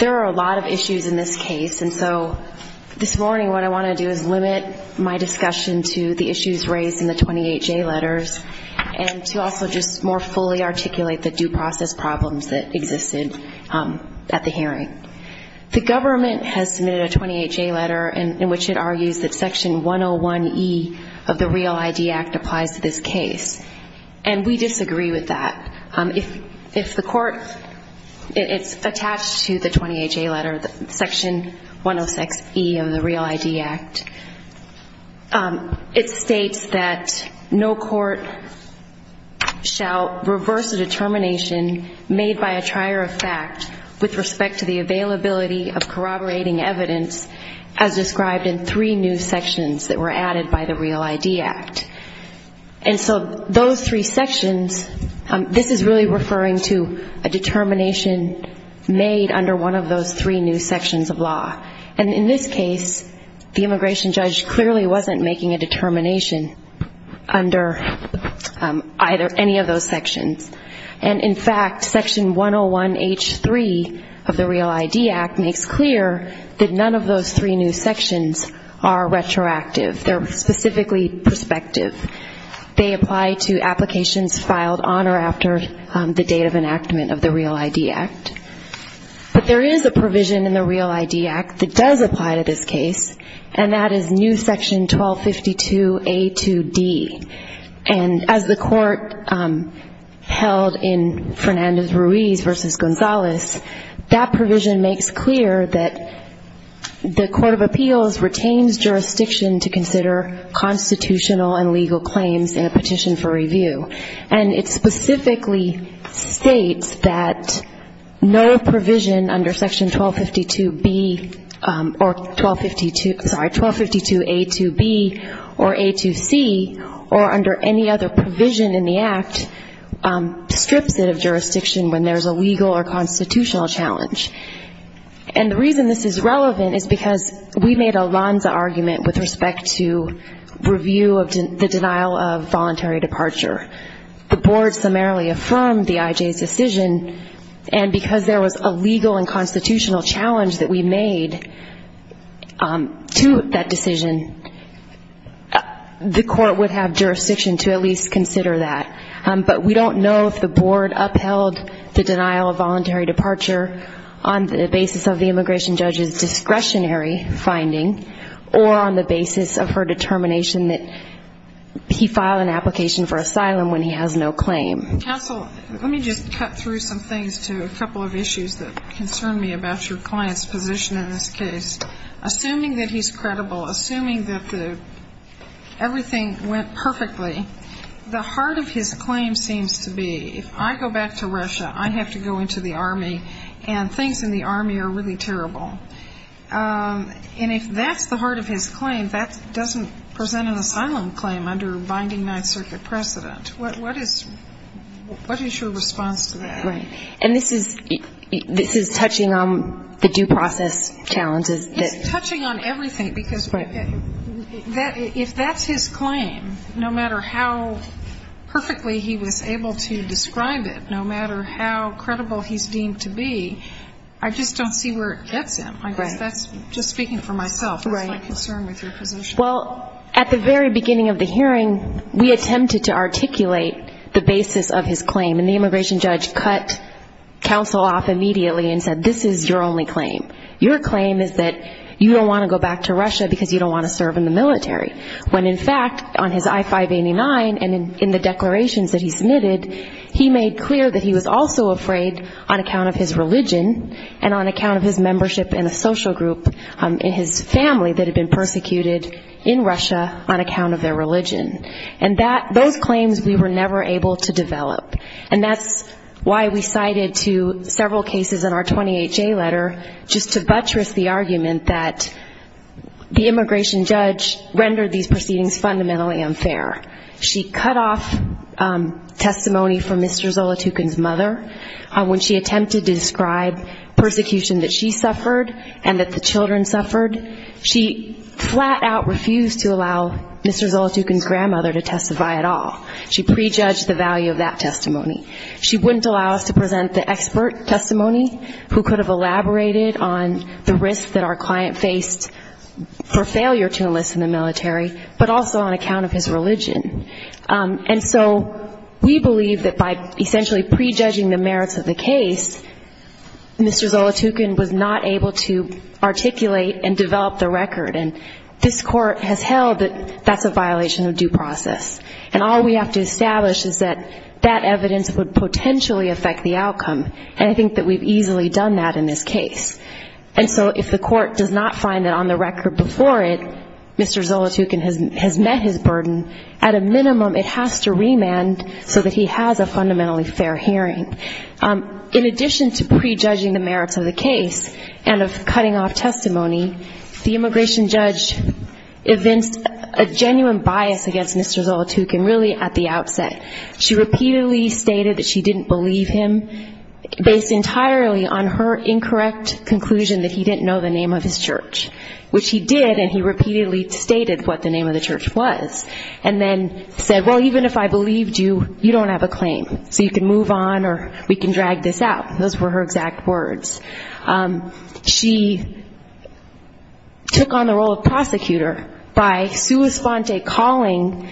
There are a lot of issues in this case and so this morning what I want to do is limit my discussion to the issues raised in the 28 J letters and to also just more fully articulate the due process problems that existed at the hearing. The government has submitted a 28 J letter and in which it argues that section 101 E of the Real ID Act applies to this case and we disagree with that. If the court, it's attached to the 28 J letter, section 106 E of the Real ID Act. It states that no court shall reverse a determination made by a trier of fact with respect to the availability of corroborating evidence as described in three new sections that were added by the Real ID Act. And so those three sections, this is really referring to a determination made under one of those three new sections of law. And in this case the immigration judge clearly wasn't making a determination under either any of those sections. And in fact section 101 H3 of the Real ID Act makes clear that none of those three new sections are retroactive. They're specifically perspective. They apply to applications filed on or after the date of enactment of the Real ID Act. But there is a provision in the Real ID Act that does apply to this case and that is new section 1252 A2D. And as the court held in Fernandez-Ruiz versus Gonzales, that provision makes clear that the Court of Appeals retains jurisdiction to And it specifically states that no provision under section 1252B or 1252, sorry, 1252A2B or A2C or under any other provision in the Act strips it of jurisdiction when there's a legal or constitutional challenge. And the reason this is relevant is because we made a Lanza argument with respect to review of the denial of voluntary departure. The board summarily affirmed the IJ's decision. And because there was a legal and constitutional challenge that we made to that decision, the court would have jurisdiction to at least consider that. But we don't know if the board upheld the denial of voluntary departure on the basis of the immigration judge's discretionary finding or on the basis of her determination that he filed an application for asylum when he has no claim. Counsel, let me just cut through some things to a couple of issues that concern me about your client's position in this case. Assuming that he's credible, assuming that everything went perfectly, the heart of his claim seems to be if I go back to Russia, I have to go into the Army and things in the Army are really critical. So if he has an asylum claim under binding Ninth Circuit precedent, what is your response to that? Right. And this is touching on the due process challenges? It's touching on everything. Because if that's his claim, no matter how perfectly he was able to describe it, no matter how credible he's deemed to be, I just don't see where it gets him. I guess that's just speaking for myself. That's my concern with your position. Well, at the very beginning of the hearing, we attempted to articulate the basis of his claim. And the immigration judge cut counsel off immediately and said, this is your only claim. Your claim is that you don't want to go back to Russia because you don't want to serve in the military. When, in fact, on his I-589 and in the declarations that he submitted, he made clear that he was also afraid on account of his religion and on account of his membership in a social group in his family that had been persecuted in Russia on account of their religion. And those claims we were never able to develop. And that's why we cited to several cases in our 28-J letter just to buttress the argument that the immigration judge rendered these proceedings fundamentally unfair. She cut off testimony from Mr. Zolotukhin's mother when she attempted to describe persecution that she suffered and that the children suffered. She flat out refused to allow Mr. Zolotukhin's grandmother to testify at all. She prejudged the value of that testimony. She wouldn't allow us to present the expert testimony who could have elaborated on the risk that our client faced for failure to enlist in the military, but also on account of his religion. And so we believe that by essentially prejudging the merits of the case, and of course, we have to articulate and develop the record, and this court has held that that's a violation of due process. And all we have to establish is that that evidence would potentially affect the outcome. And I think that we've easily done that in this case. And so if the court does not find that on the record before it, Mr. Zolotukhin has met his burden, at a minimum it has to remand so that he has a fundamentally fair hearing. In addition to prejudging the merits of the case and of cutting off testimony, the immigration judge evinced a genuine bias against Mr. Zolotukhin really at the outset. She repeatedly stated that she didn't believe him, based entirely on her incorrect conclusion that he didn't know the name of his church, which he did and he said, even if I believed you, you don't have a claim, so you can move on or we can drag this out. Those were her exact words. She took on the role of prosecutor by sua sponte calling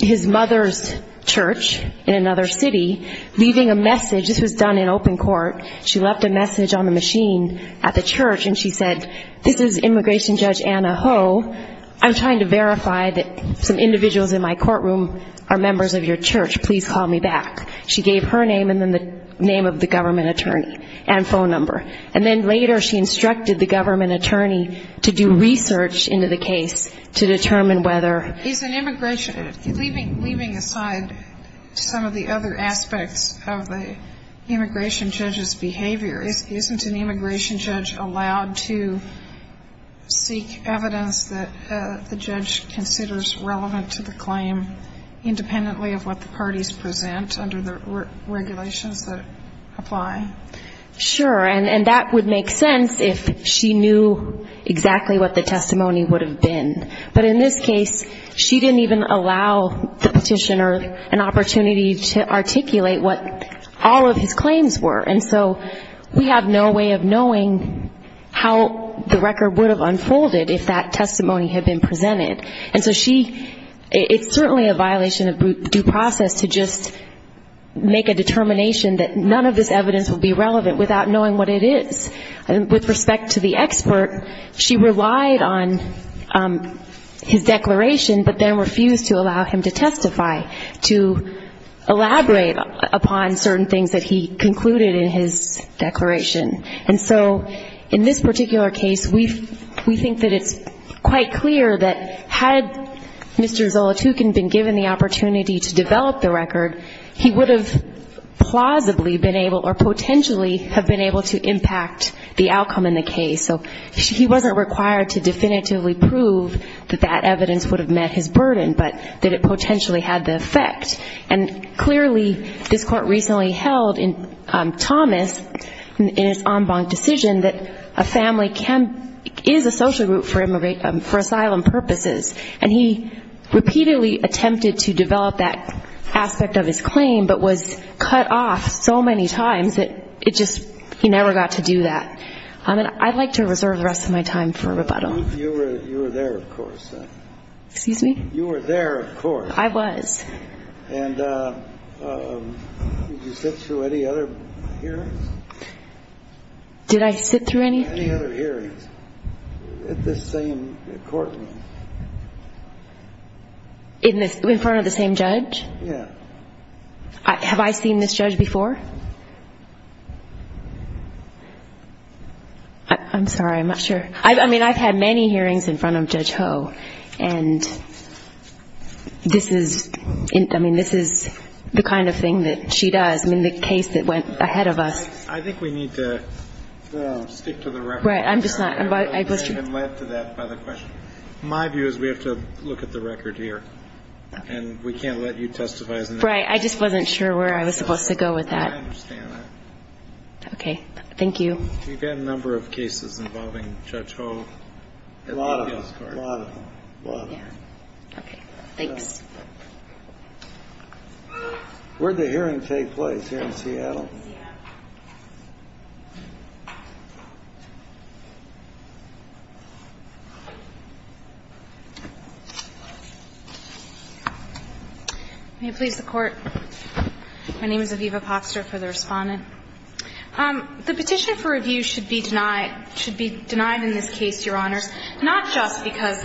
his mother's church in another city, leaving a message, this was done in open court, she left a message on the machine at the church and she said, this is immigration judge Anna Ho, I'm trying to verify that some individuals in my courtroom are members of your church, please call me back. She gave her name and then the name of the government attorney and phone number. And then later she instructed the government attorney to do research into the case to determine whether... Is an immigration, leaving aside some of the other aspects of the immigration judge's behavior, isn't an immigration judge allowed to seek evidence that the petitioner is relevant to the claim, independently of what the parties present under the regulations that apply? Sure, and that would make sense if she knew exactly what the testimony would have been. But in this case, she didn't even allow the petitioner an opportunity to articulate what all of his claims were. And so we have no way of knowing how the petitioner is relevant. It's certainly a violation of due process to just make a determination that none of this evidence would be relevant without knowing what it is. With respect to the expert, she relied on his declaration, but then refused to allow him to testify, to elaborate upon certain things that he concluded in his declaration. And so in this particular case, we think that it's quite clear that had Mr. Zolotukhin been given the opportunity to develop the record, he would have plausibly been able, or potentially have been able to impact the outcome in the case. So he wasn't required to definitively prove that that evidence would have met his burden, but that it potentially had the effect. And clearly, this court recently held in Thomas, in its en banc decision, that a family is a social group for asylum purposes. And he repeatedly attempted to develop that aspect of his claim, but was cut off so many times that it just, he never got to do that. And I'd like to reserve the rest of my time for rebuttal. You were there, of course. Excuse me? You were there, of course. I was. And did you sit through any other hearings? Did I sit through any? Any other hearings at this same courtroom? In front of the same judge? Yeah. Have I seen this judge before? I'm sorry, I'm not sure. I mean, I've had many hearings in front of Judge Ho, and this is, I mean, this is the kind of thing that she does. I mean, the case that went ahead of us. I think we need to stick to the record. Right. I'm just not. And led to that by the question. My view is we have to look at the record here. And we can't let you testify. Right. I just wasn't sure where I was supposed to go with that. I understand that. Okay. Thank you. We've had a number of cases involving Judge Ho. A lot of them. A lot of them. Okay. Thanks. Where did the hearing take place? Here in Seattle? Seattle. May it please the Court. My name is Aviva Popster for the Respondent. The petition for review should be denied in this case, Your Honors. Not just because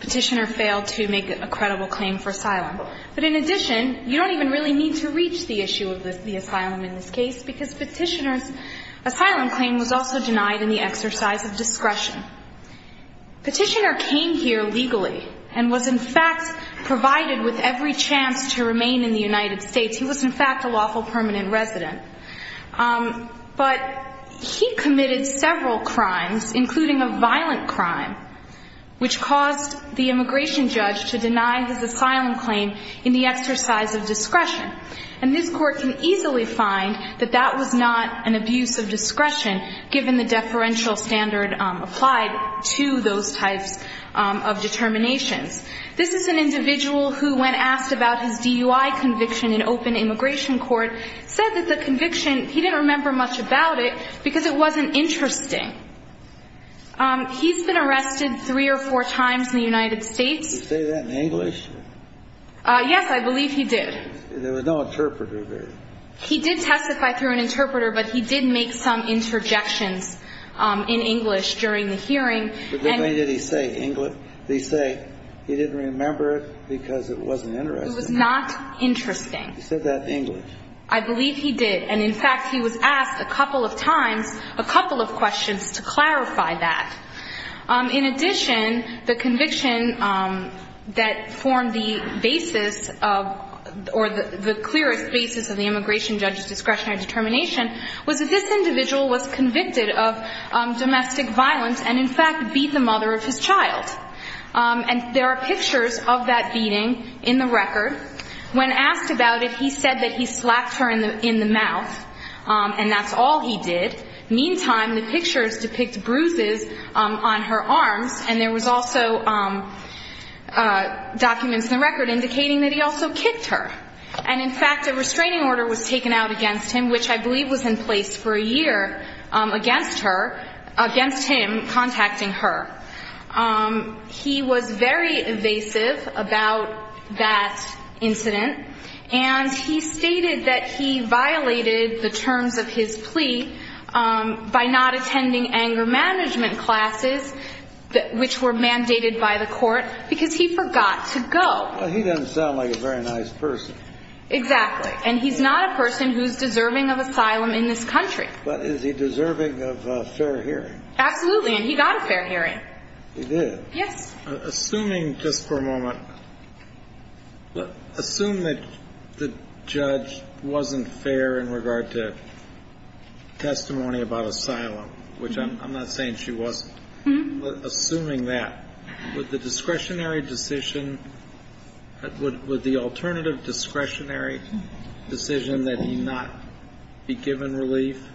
Petitioner failed to make a credible claim for asylum. But in addition, you don't even really need to reach the issue of the asylum in this case because Petitioner's asylum claim was also denied in the exercise of discretion. Petitioner came here legally and was, in fact, provided with every chance to remain in the United States. He was, in fact, a lawful permanent resident. But he committed several crimes, including a violent crime, which caused the immigration judge to deny his asylum claim in the exercise of discretion. And this Court can easily find that that was not an abuse of discretion given the deferential standard applied to those types of determinations. This is an individual who, when asked about his DUI conviction in open immigration court, said that the conviction, he didn't remember much about it because it wasn't interesting. He's been arrested three or four times in the United States. Did he say that in English? Yes, I believe he did. There was no interpreter there. He did testify through an interpreter, but he did make some interjections in English during the hearing. But then when did he say English? Did he say he didn't remember it because it wasn't interesting? It was not interesting. He said that in English. I believe he did. And, in fact, he was asked a couple of times, a couple of questions to clarify that. In addition, the conviction that formed the basis of, or the clearest basis of the immigration judge's discretionary determination was that this individual was convicted of domestic violence and, in fact, beat the mother of his child. And there are pictures of that beating in the record. When asked about it, he said that he slapped her in the mouth, and that's all he did. Meantime, the pictures depict bruises on her arms, and there was also documents in the record indicating that he also kicked her. And, in fact, a restraining order was taken out against him, which I believe was in place for a year, against her, against him contacting her. He was very evasive about that incident, and he stated that he violated the terms of his plea by not attending anger management classes, which were mandated by the court, because he forgot to go. Well, he doesn't sound like a very nice person. Exactly. And he's not a person who's deserving of asylum in this country. But is he deserving of a fair hearing? Absolutely, and he got a fair hearing. He did? Yes. Assuming, just for a moment, assume that the judge wasn't fair in regard to testimony about asylum, which I'm not saying she wasn't, but assuming that, would the discretionary decision, would the alternative discretionary decision that he not be given relief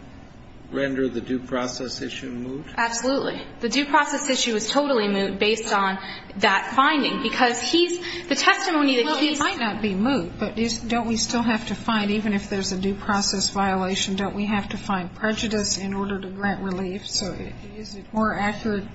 render the due process issue moot? Absolutely. The due process issue is totally moot based on that finding, because he's, the testimony that he's. Well, it might not be moot, but don't we still have to find, even if there's a due process violation, don't we have to find prejudice in order to grant relief? So is it more accurate,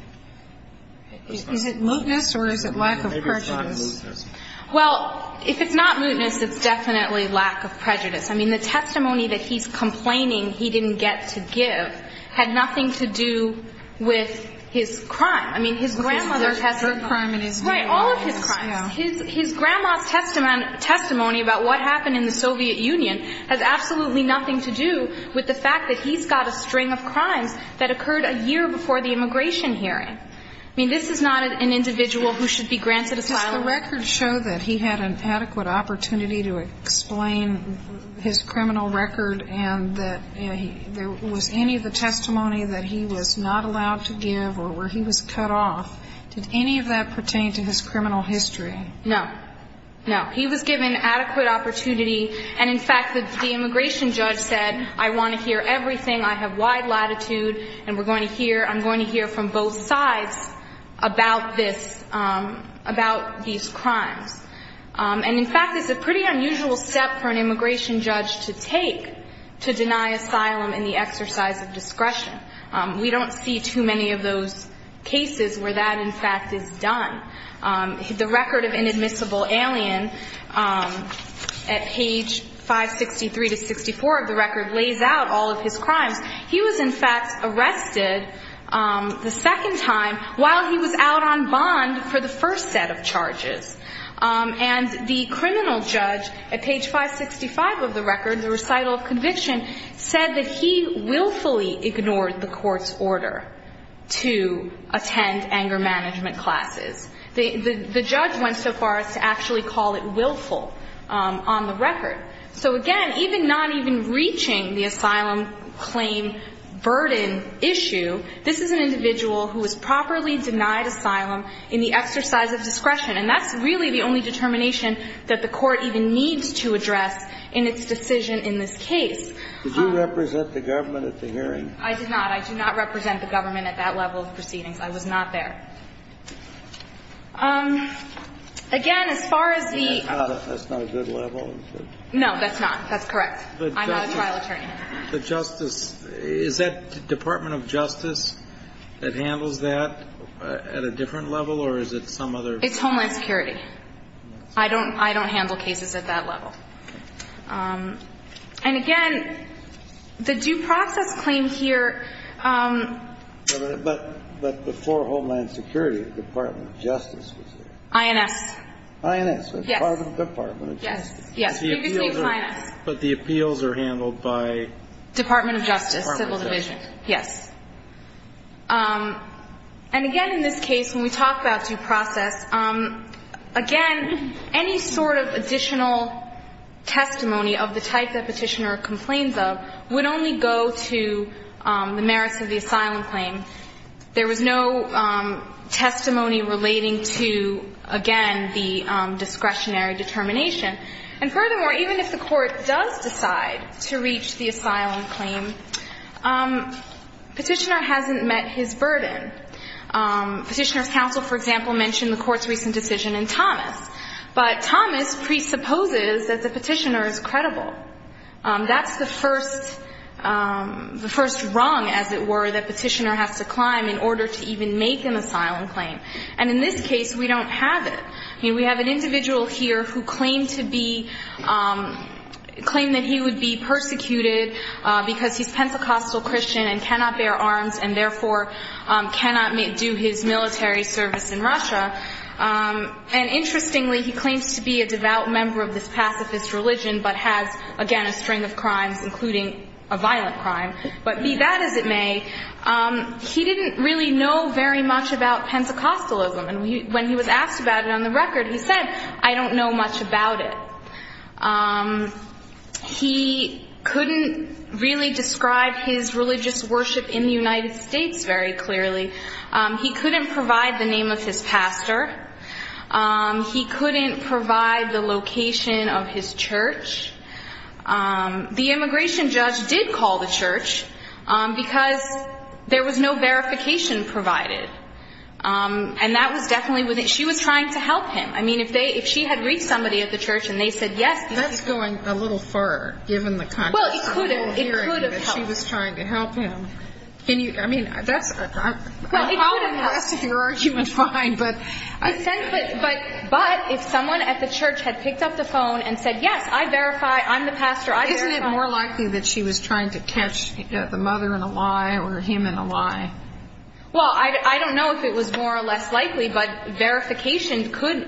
is it mootness or is it lack of prejudice? Maybe it's not mootness. Well, if it's not mootness, it's definitely lack of prejudice. I mean, the testimony that he's complaining he didn't get to give had nothing to do with his crime. I mean, his grandmother. Her crime and his. Right, all of his crimes. Yeah. His grandma's testimony about what happened in the Soviet Union has absolutely nothing to do with the fact that he's got a string of crimes that occurred a year before the immigration hearing. I mean, this is not an individual who should be granted asylum. Does the record show that he had an adequate opportunity to explain his criminal record and that there was any of the testimony that he was not allowed to give or where he was cut off? Did any of that pertain to his criminal history? No. No. He was given adequate opportunity. And, in fact, the immigration judge said, I want to hear everything, I have wide latitude, and we're going to hear, I'm going to hear from both sides about this, about these crimes. And, in fact, it's a pretty unusual step for an immigration judge to take to deny asylum in the exercise of discretion. We don't see too many of those cases where that, in fact, is done. The record of inadmissible alien, at page 563 to 64 of the record, lays out all of his crimes. He was, in fact, arrested the second time while he was out on bond for the first set of charges. And the criminal judge, at page 565 of the record, the recital of conviction, said that he willfully ignored the court's order to attend anger management classes. The judge went so far as to actually call it willful on the record. So, again, even not even reaching the asylum claim burden issue, this is an individual who was properly denied asylum in the exercise of discretion. And that's really the only determination that the court even needs to address in its decision in this case. Did you represent the government at the hearing? I did not. I do not represent the government at that level of proceedings. I was not there. Again, as far as the ---- That's not a good level. No, that's not. That's correct. I'm not a trial attorney. The justice ---- Is that Department of Justice that handles that at a different level, or is it some other ---- It's Homeland Security. I don't handle cases at that level. And, again, the due process claim here ---- But before Homeland Security, Department of Justice was there. INS. INS. Yes. But the appeals are handled by ---- Department of Justice, Civil Division. Yes. And, again, in this case, when we talk about due process, again, any sort of additional testimony of the type that Petitioner complains of would only go to the merits of the asylum claim. There was no testimony relating to, again, the discretionary determination. And, furthermore, even if the Court does decide to reach the asylum claim, Petitioner hasn't met his burden. Petitioner's counsel, for example, mentioned the Court's recent decision in Thomas. But Thomas presupposes that the Petitioner is credible. That's the first rung, as it were, that Petitioner has to climb in order to even make an asylum claim. And, in this case, we don't have it. I mean, we have an individual here who claimed to be ---- claimed that he would be persecuted because he's Pentecostal Christian and cannot bear arms and, therefore, cannot do his military service in Russia. And, interestingly, he claims to be a devout member of this pacifist religion but has again a string of crimes, including a violent crime. But, be that as it may, he didn't really know very much about Pentecostalism. And when he was asked about it on the record, he said, I don't know much about it. He couldn't really describe his religious worship in the United States very clearly. He couldn't provide the name of his pastor. He couldn't provide the location of his church. The immigration judge did call the church because there was no verification provided. And that was definitely within ---- she was trying to help him. I mean, if they ---- if she had reached somebody at the church and they said yes ---- That's going a little far, given the context. Well, it could have. It could have helped. She was trying to help him. Well, it could have. I'm going to rest your argument fine, but ---- But if someone at the church had picked up the phone and said, yes, I verify, I'm the pastor, I verify. Isn't it more likely that she was trying to catch the mother in a lie or him in a lie? Well, I don't know if it was more or less likely, but verification could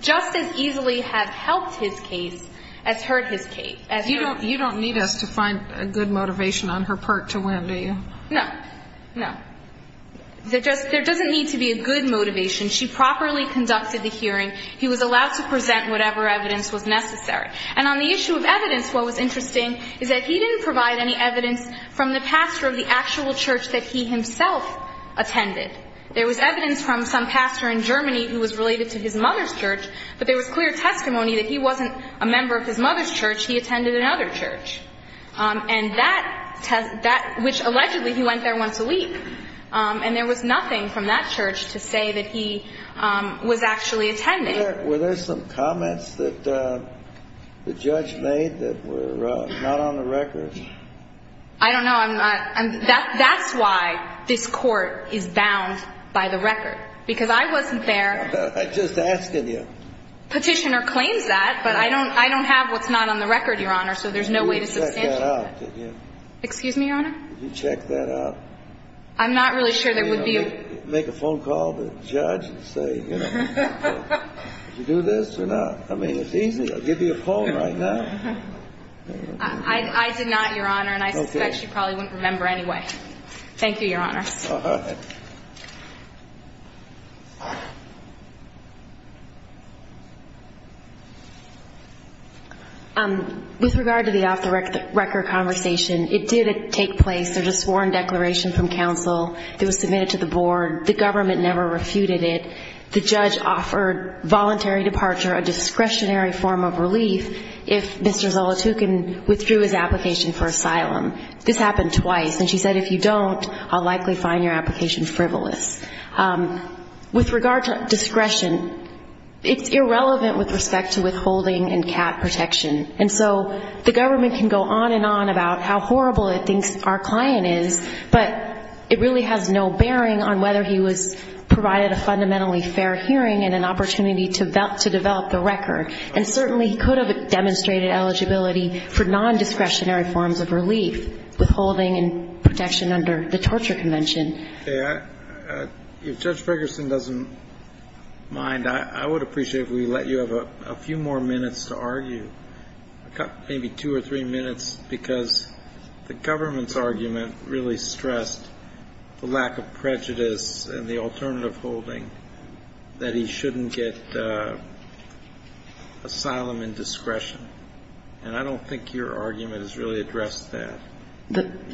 just as easily have helped his case as hurt his case. You don't need us to find a good motivation on her part to win, do you? No. No. There doesn't need to be a good motivation. She properly conducted the hearing. He was allowed to present whatever evidence was necessary. And on the issue of evidence, what was interesting is that he didn't provide any evidence from the pastor of the actual church that he himself attended. There was evidence from some pastor in Germany who was related to his mother's church, but there was clear testimony that he wasn't a member of his mother's church. He attended another church. And that, which allegedly he went there once a week. And there was nothing from that church to say that he was actually attending. Were there some comments that the judge made that were not on the record? I don't know. That's why this court is bound by the record, because I wasn't there. I'm just asking you. Petitioner claims that, but I don't have what's not on the record, Your Honor, so there's no way to substantiate that. Did you check that out? Excuse me, Your Honor? Did you check that out? I'm not really sure there would be a... Make a phone call to the judge and say, you know, did you do this or not? I mean, it's easy. I'll give you a phone right now. I did not, Your Honor, and I suspect she probably wouldn't remember anyway. Thank you, Your Honor. All right. With regard to the off-the-record conversation, it did take place. There was a sworn declaration from counsel. It was submitted to the board. The government never refuted it. The judge offered voluntary departure a discretionary form of relief if Mr. Zolotukhin withdrew his application for asylum. This happened twice. And she said, if you don't, I'll likely find your application frivolous. With regard to discretion, it's irrelevant with respect to withholding and CAT protection. And so the government can go on and on about how horrible it thinks our client is, but it really has no bearing on whether he was provided a fundamentally fair hearing and an opportunity to develop the record. And certainly he could have demonstrated eligibility for nondiscretionary forms of relief, withholding and protection under the torture convention. If Judge Ferguson doesn't mind, I would appreciate if we let you have a few more minutes to argue, maybe two or three minutes, because the government's argument really stressed the lack of prejudice and the alternative holding that he shouldn't get asylum and discretion. And I don't think your argument has really addressed that,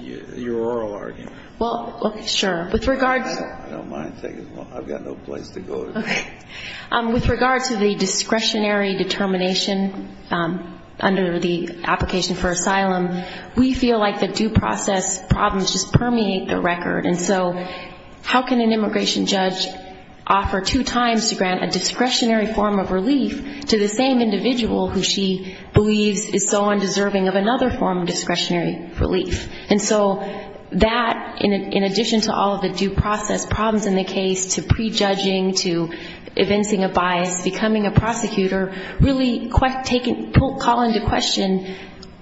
your oral argument. Well, sure. I don't mind. I've got no place to go to. With regard to the discretionary determination under the application for asylum, we feel like the due process problems just permeate the record. And so how can an immigration judge offer two times to grant a discretionary form of relief to the same individual who she believes is so undeserving of another form of discretionary relief? And so that, in addition to all of the due process problems in the case, to prejudging, to evincing a bias, becoming a prosecutor, really call into question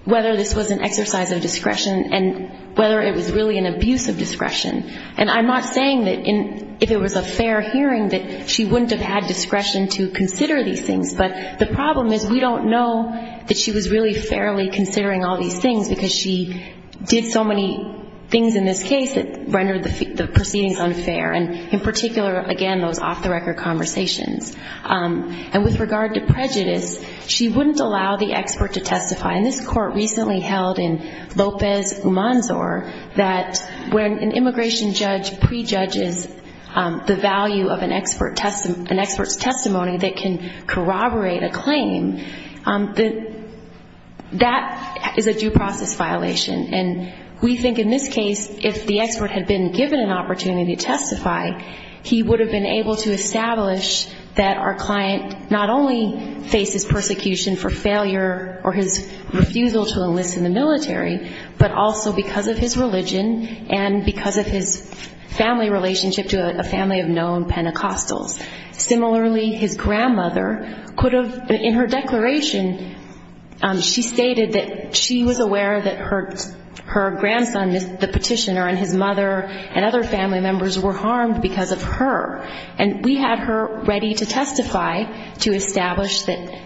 whether this was an exercise of discretion and whether it was really an abuse of discretion. And I'm not saying that if it was a fair hearing that she wouldn't have had discretion to consider these things, but the problem is we don't know that she was really fairly considering all these things because she did so many things in this case that rendered the proceedings unfair, and in particular, again, those off-the-record conversations. And with regard to prejudice, she wouldn't allow the expert to testify. And this court recently held in Lopez-Umanzor that when an immigration judge prejudges the value of an expert's testimony that can corroborate a claim, that that is a due process violation. And we think in this case, if the expert had been given an opportunity to testify, he would have been able to establish that our client not only faces persecution for failure or his refusal to enlist in the military, but also because of his religion and because of his family relationship to a family of known Pentecostals. Similarly, his grandmother could have, in her declaration, she stated that she was aware that her grandson, the petitioner, and his mother and other family members were harmed because of her. And we had her ready to testify to establish that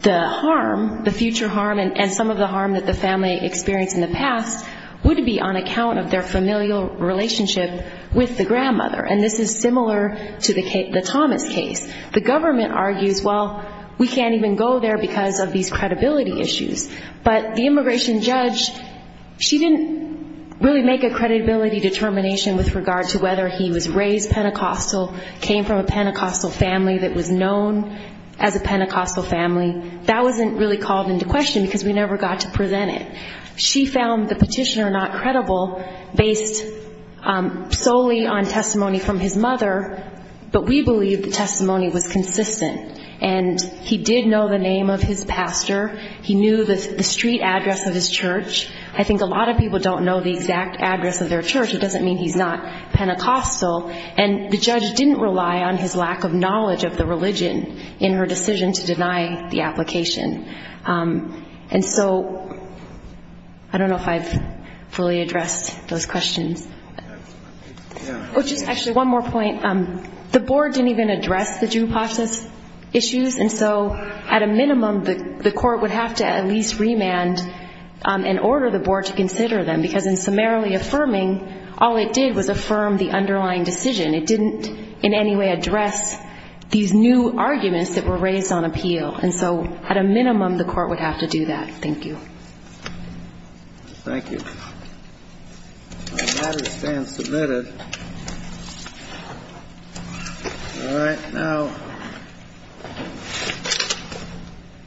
the harm, the future harm, and some of the harm that the family experienced in the past would be on account of their familial relationship with the grandmother. And this is similar to the Thomas case. The government argues, well, we can't even go there because of these credibility issues. But the immigration judge, she didn't really make a credibility determination with regard to whether he was raised Pentecostal, came from a Pentecostal family that was known as a Pentecostal family. And that wasn't really called into question because we never got to present it. She found the petitioner not credible based solely on testimony from his mother, but we believe the testimony was consistent. And he did know the name of his pastor. He knew the street address of his church. I think a lot of people don't know the exact address of their church. It doesn't mean he's not Pentecostal. And the judge didn't rely on his lack of knowledge of the religion in her decision to deny the application. And so I don't know if I've fully addressed those questions. Oh, just actually one more point. The board didn't even address the Jewpashna issues, and so at a minimum the court would have to at least remand and order the board to consider them because in summarily affirming, all it did was affirm the underlying decision. It didn't in any way address these new arguments that were raised on appeal. And so at a minimum the court would have to do that. Thank you. Thank you. The matter stands submitted. All right, now.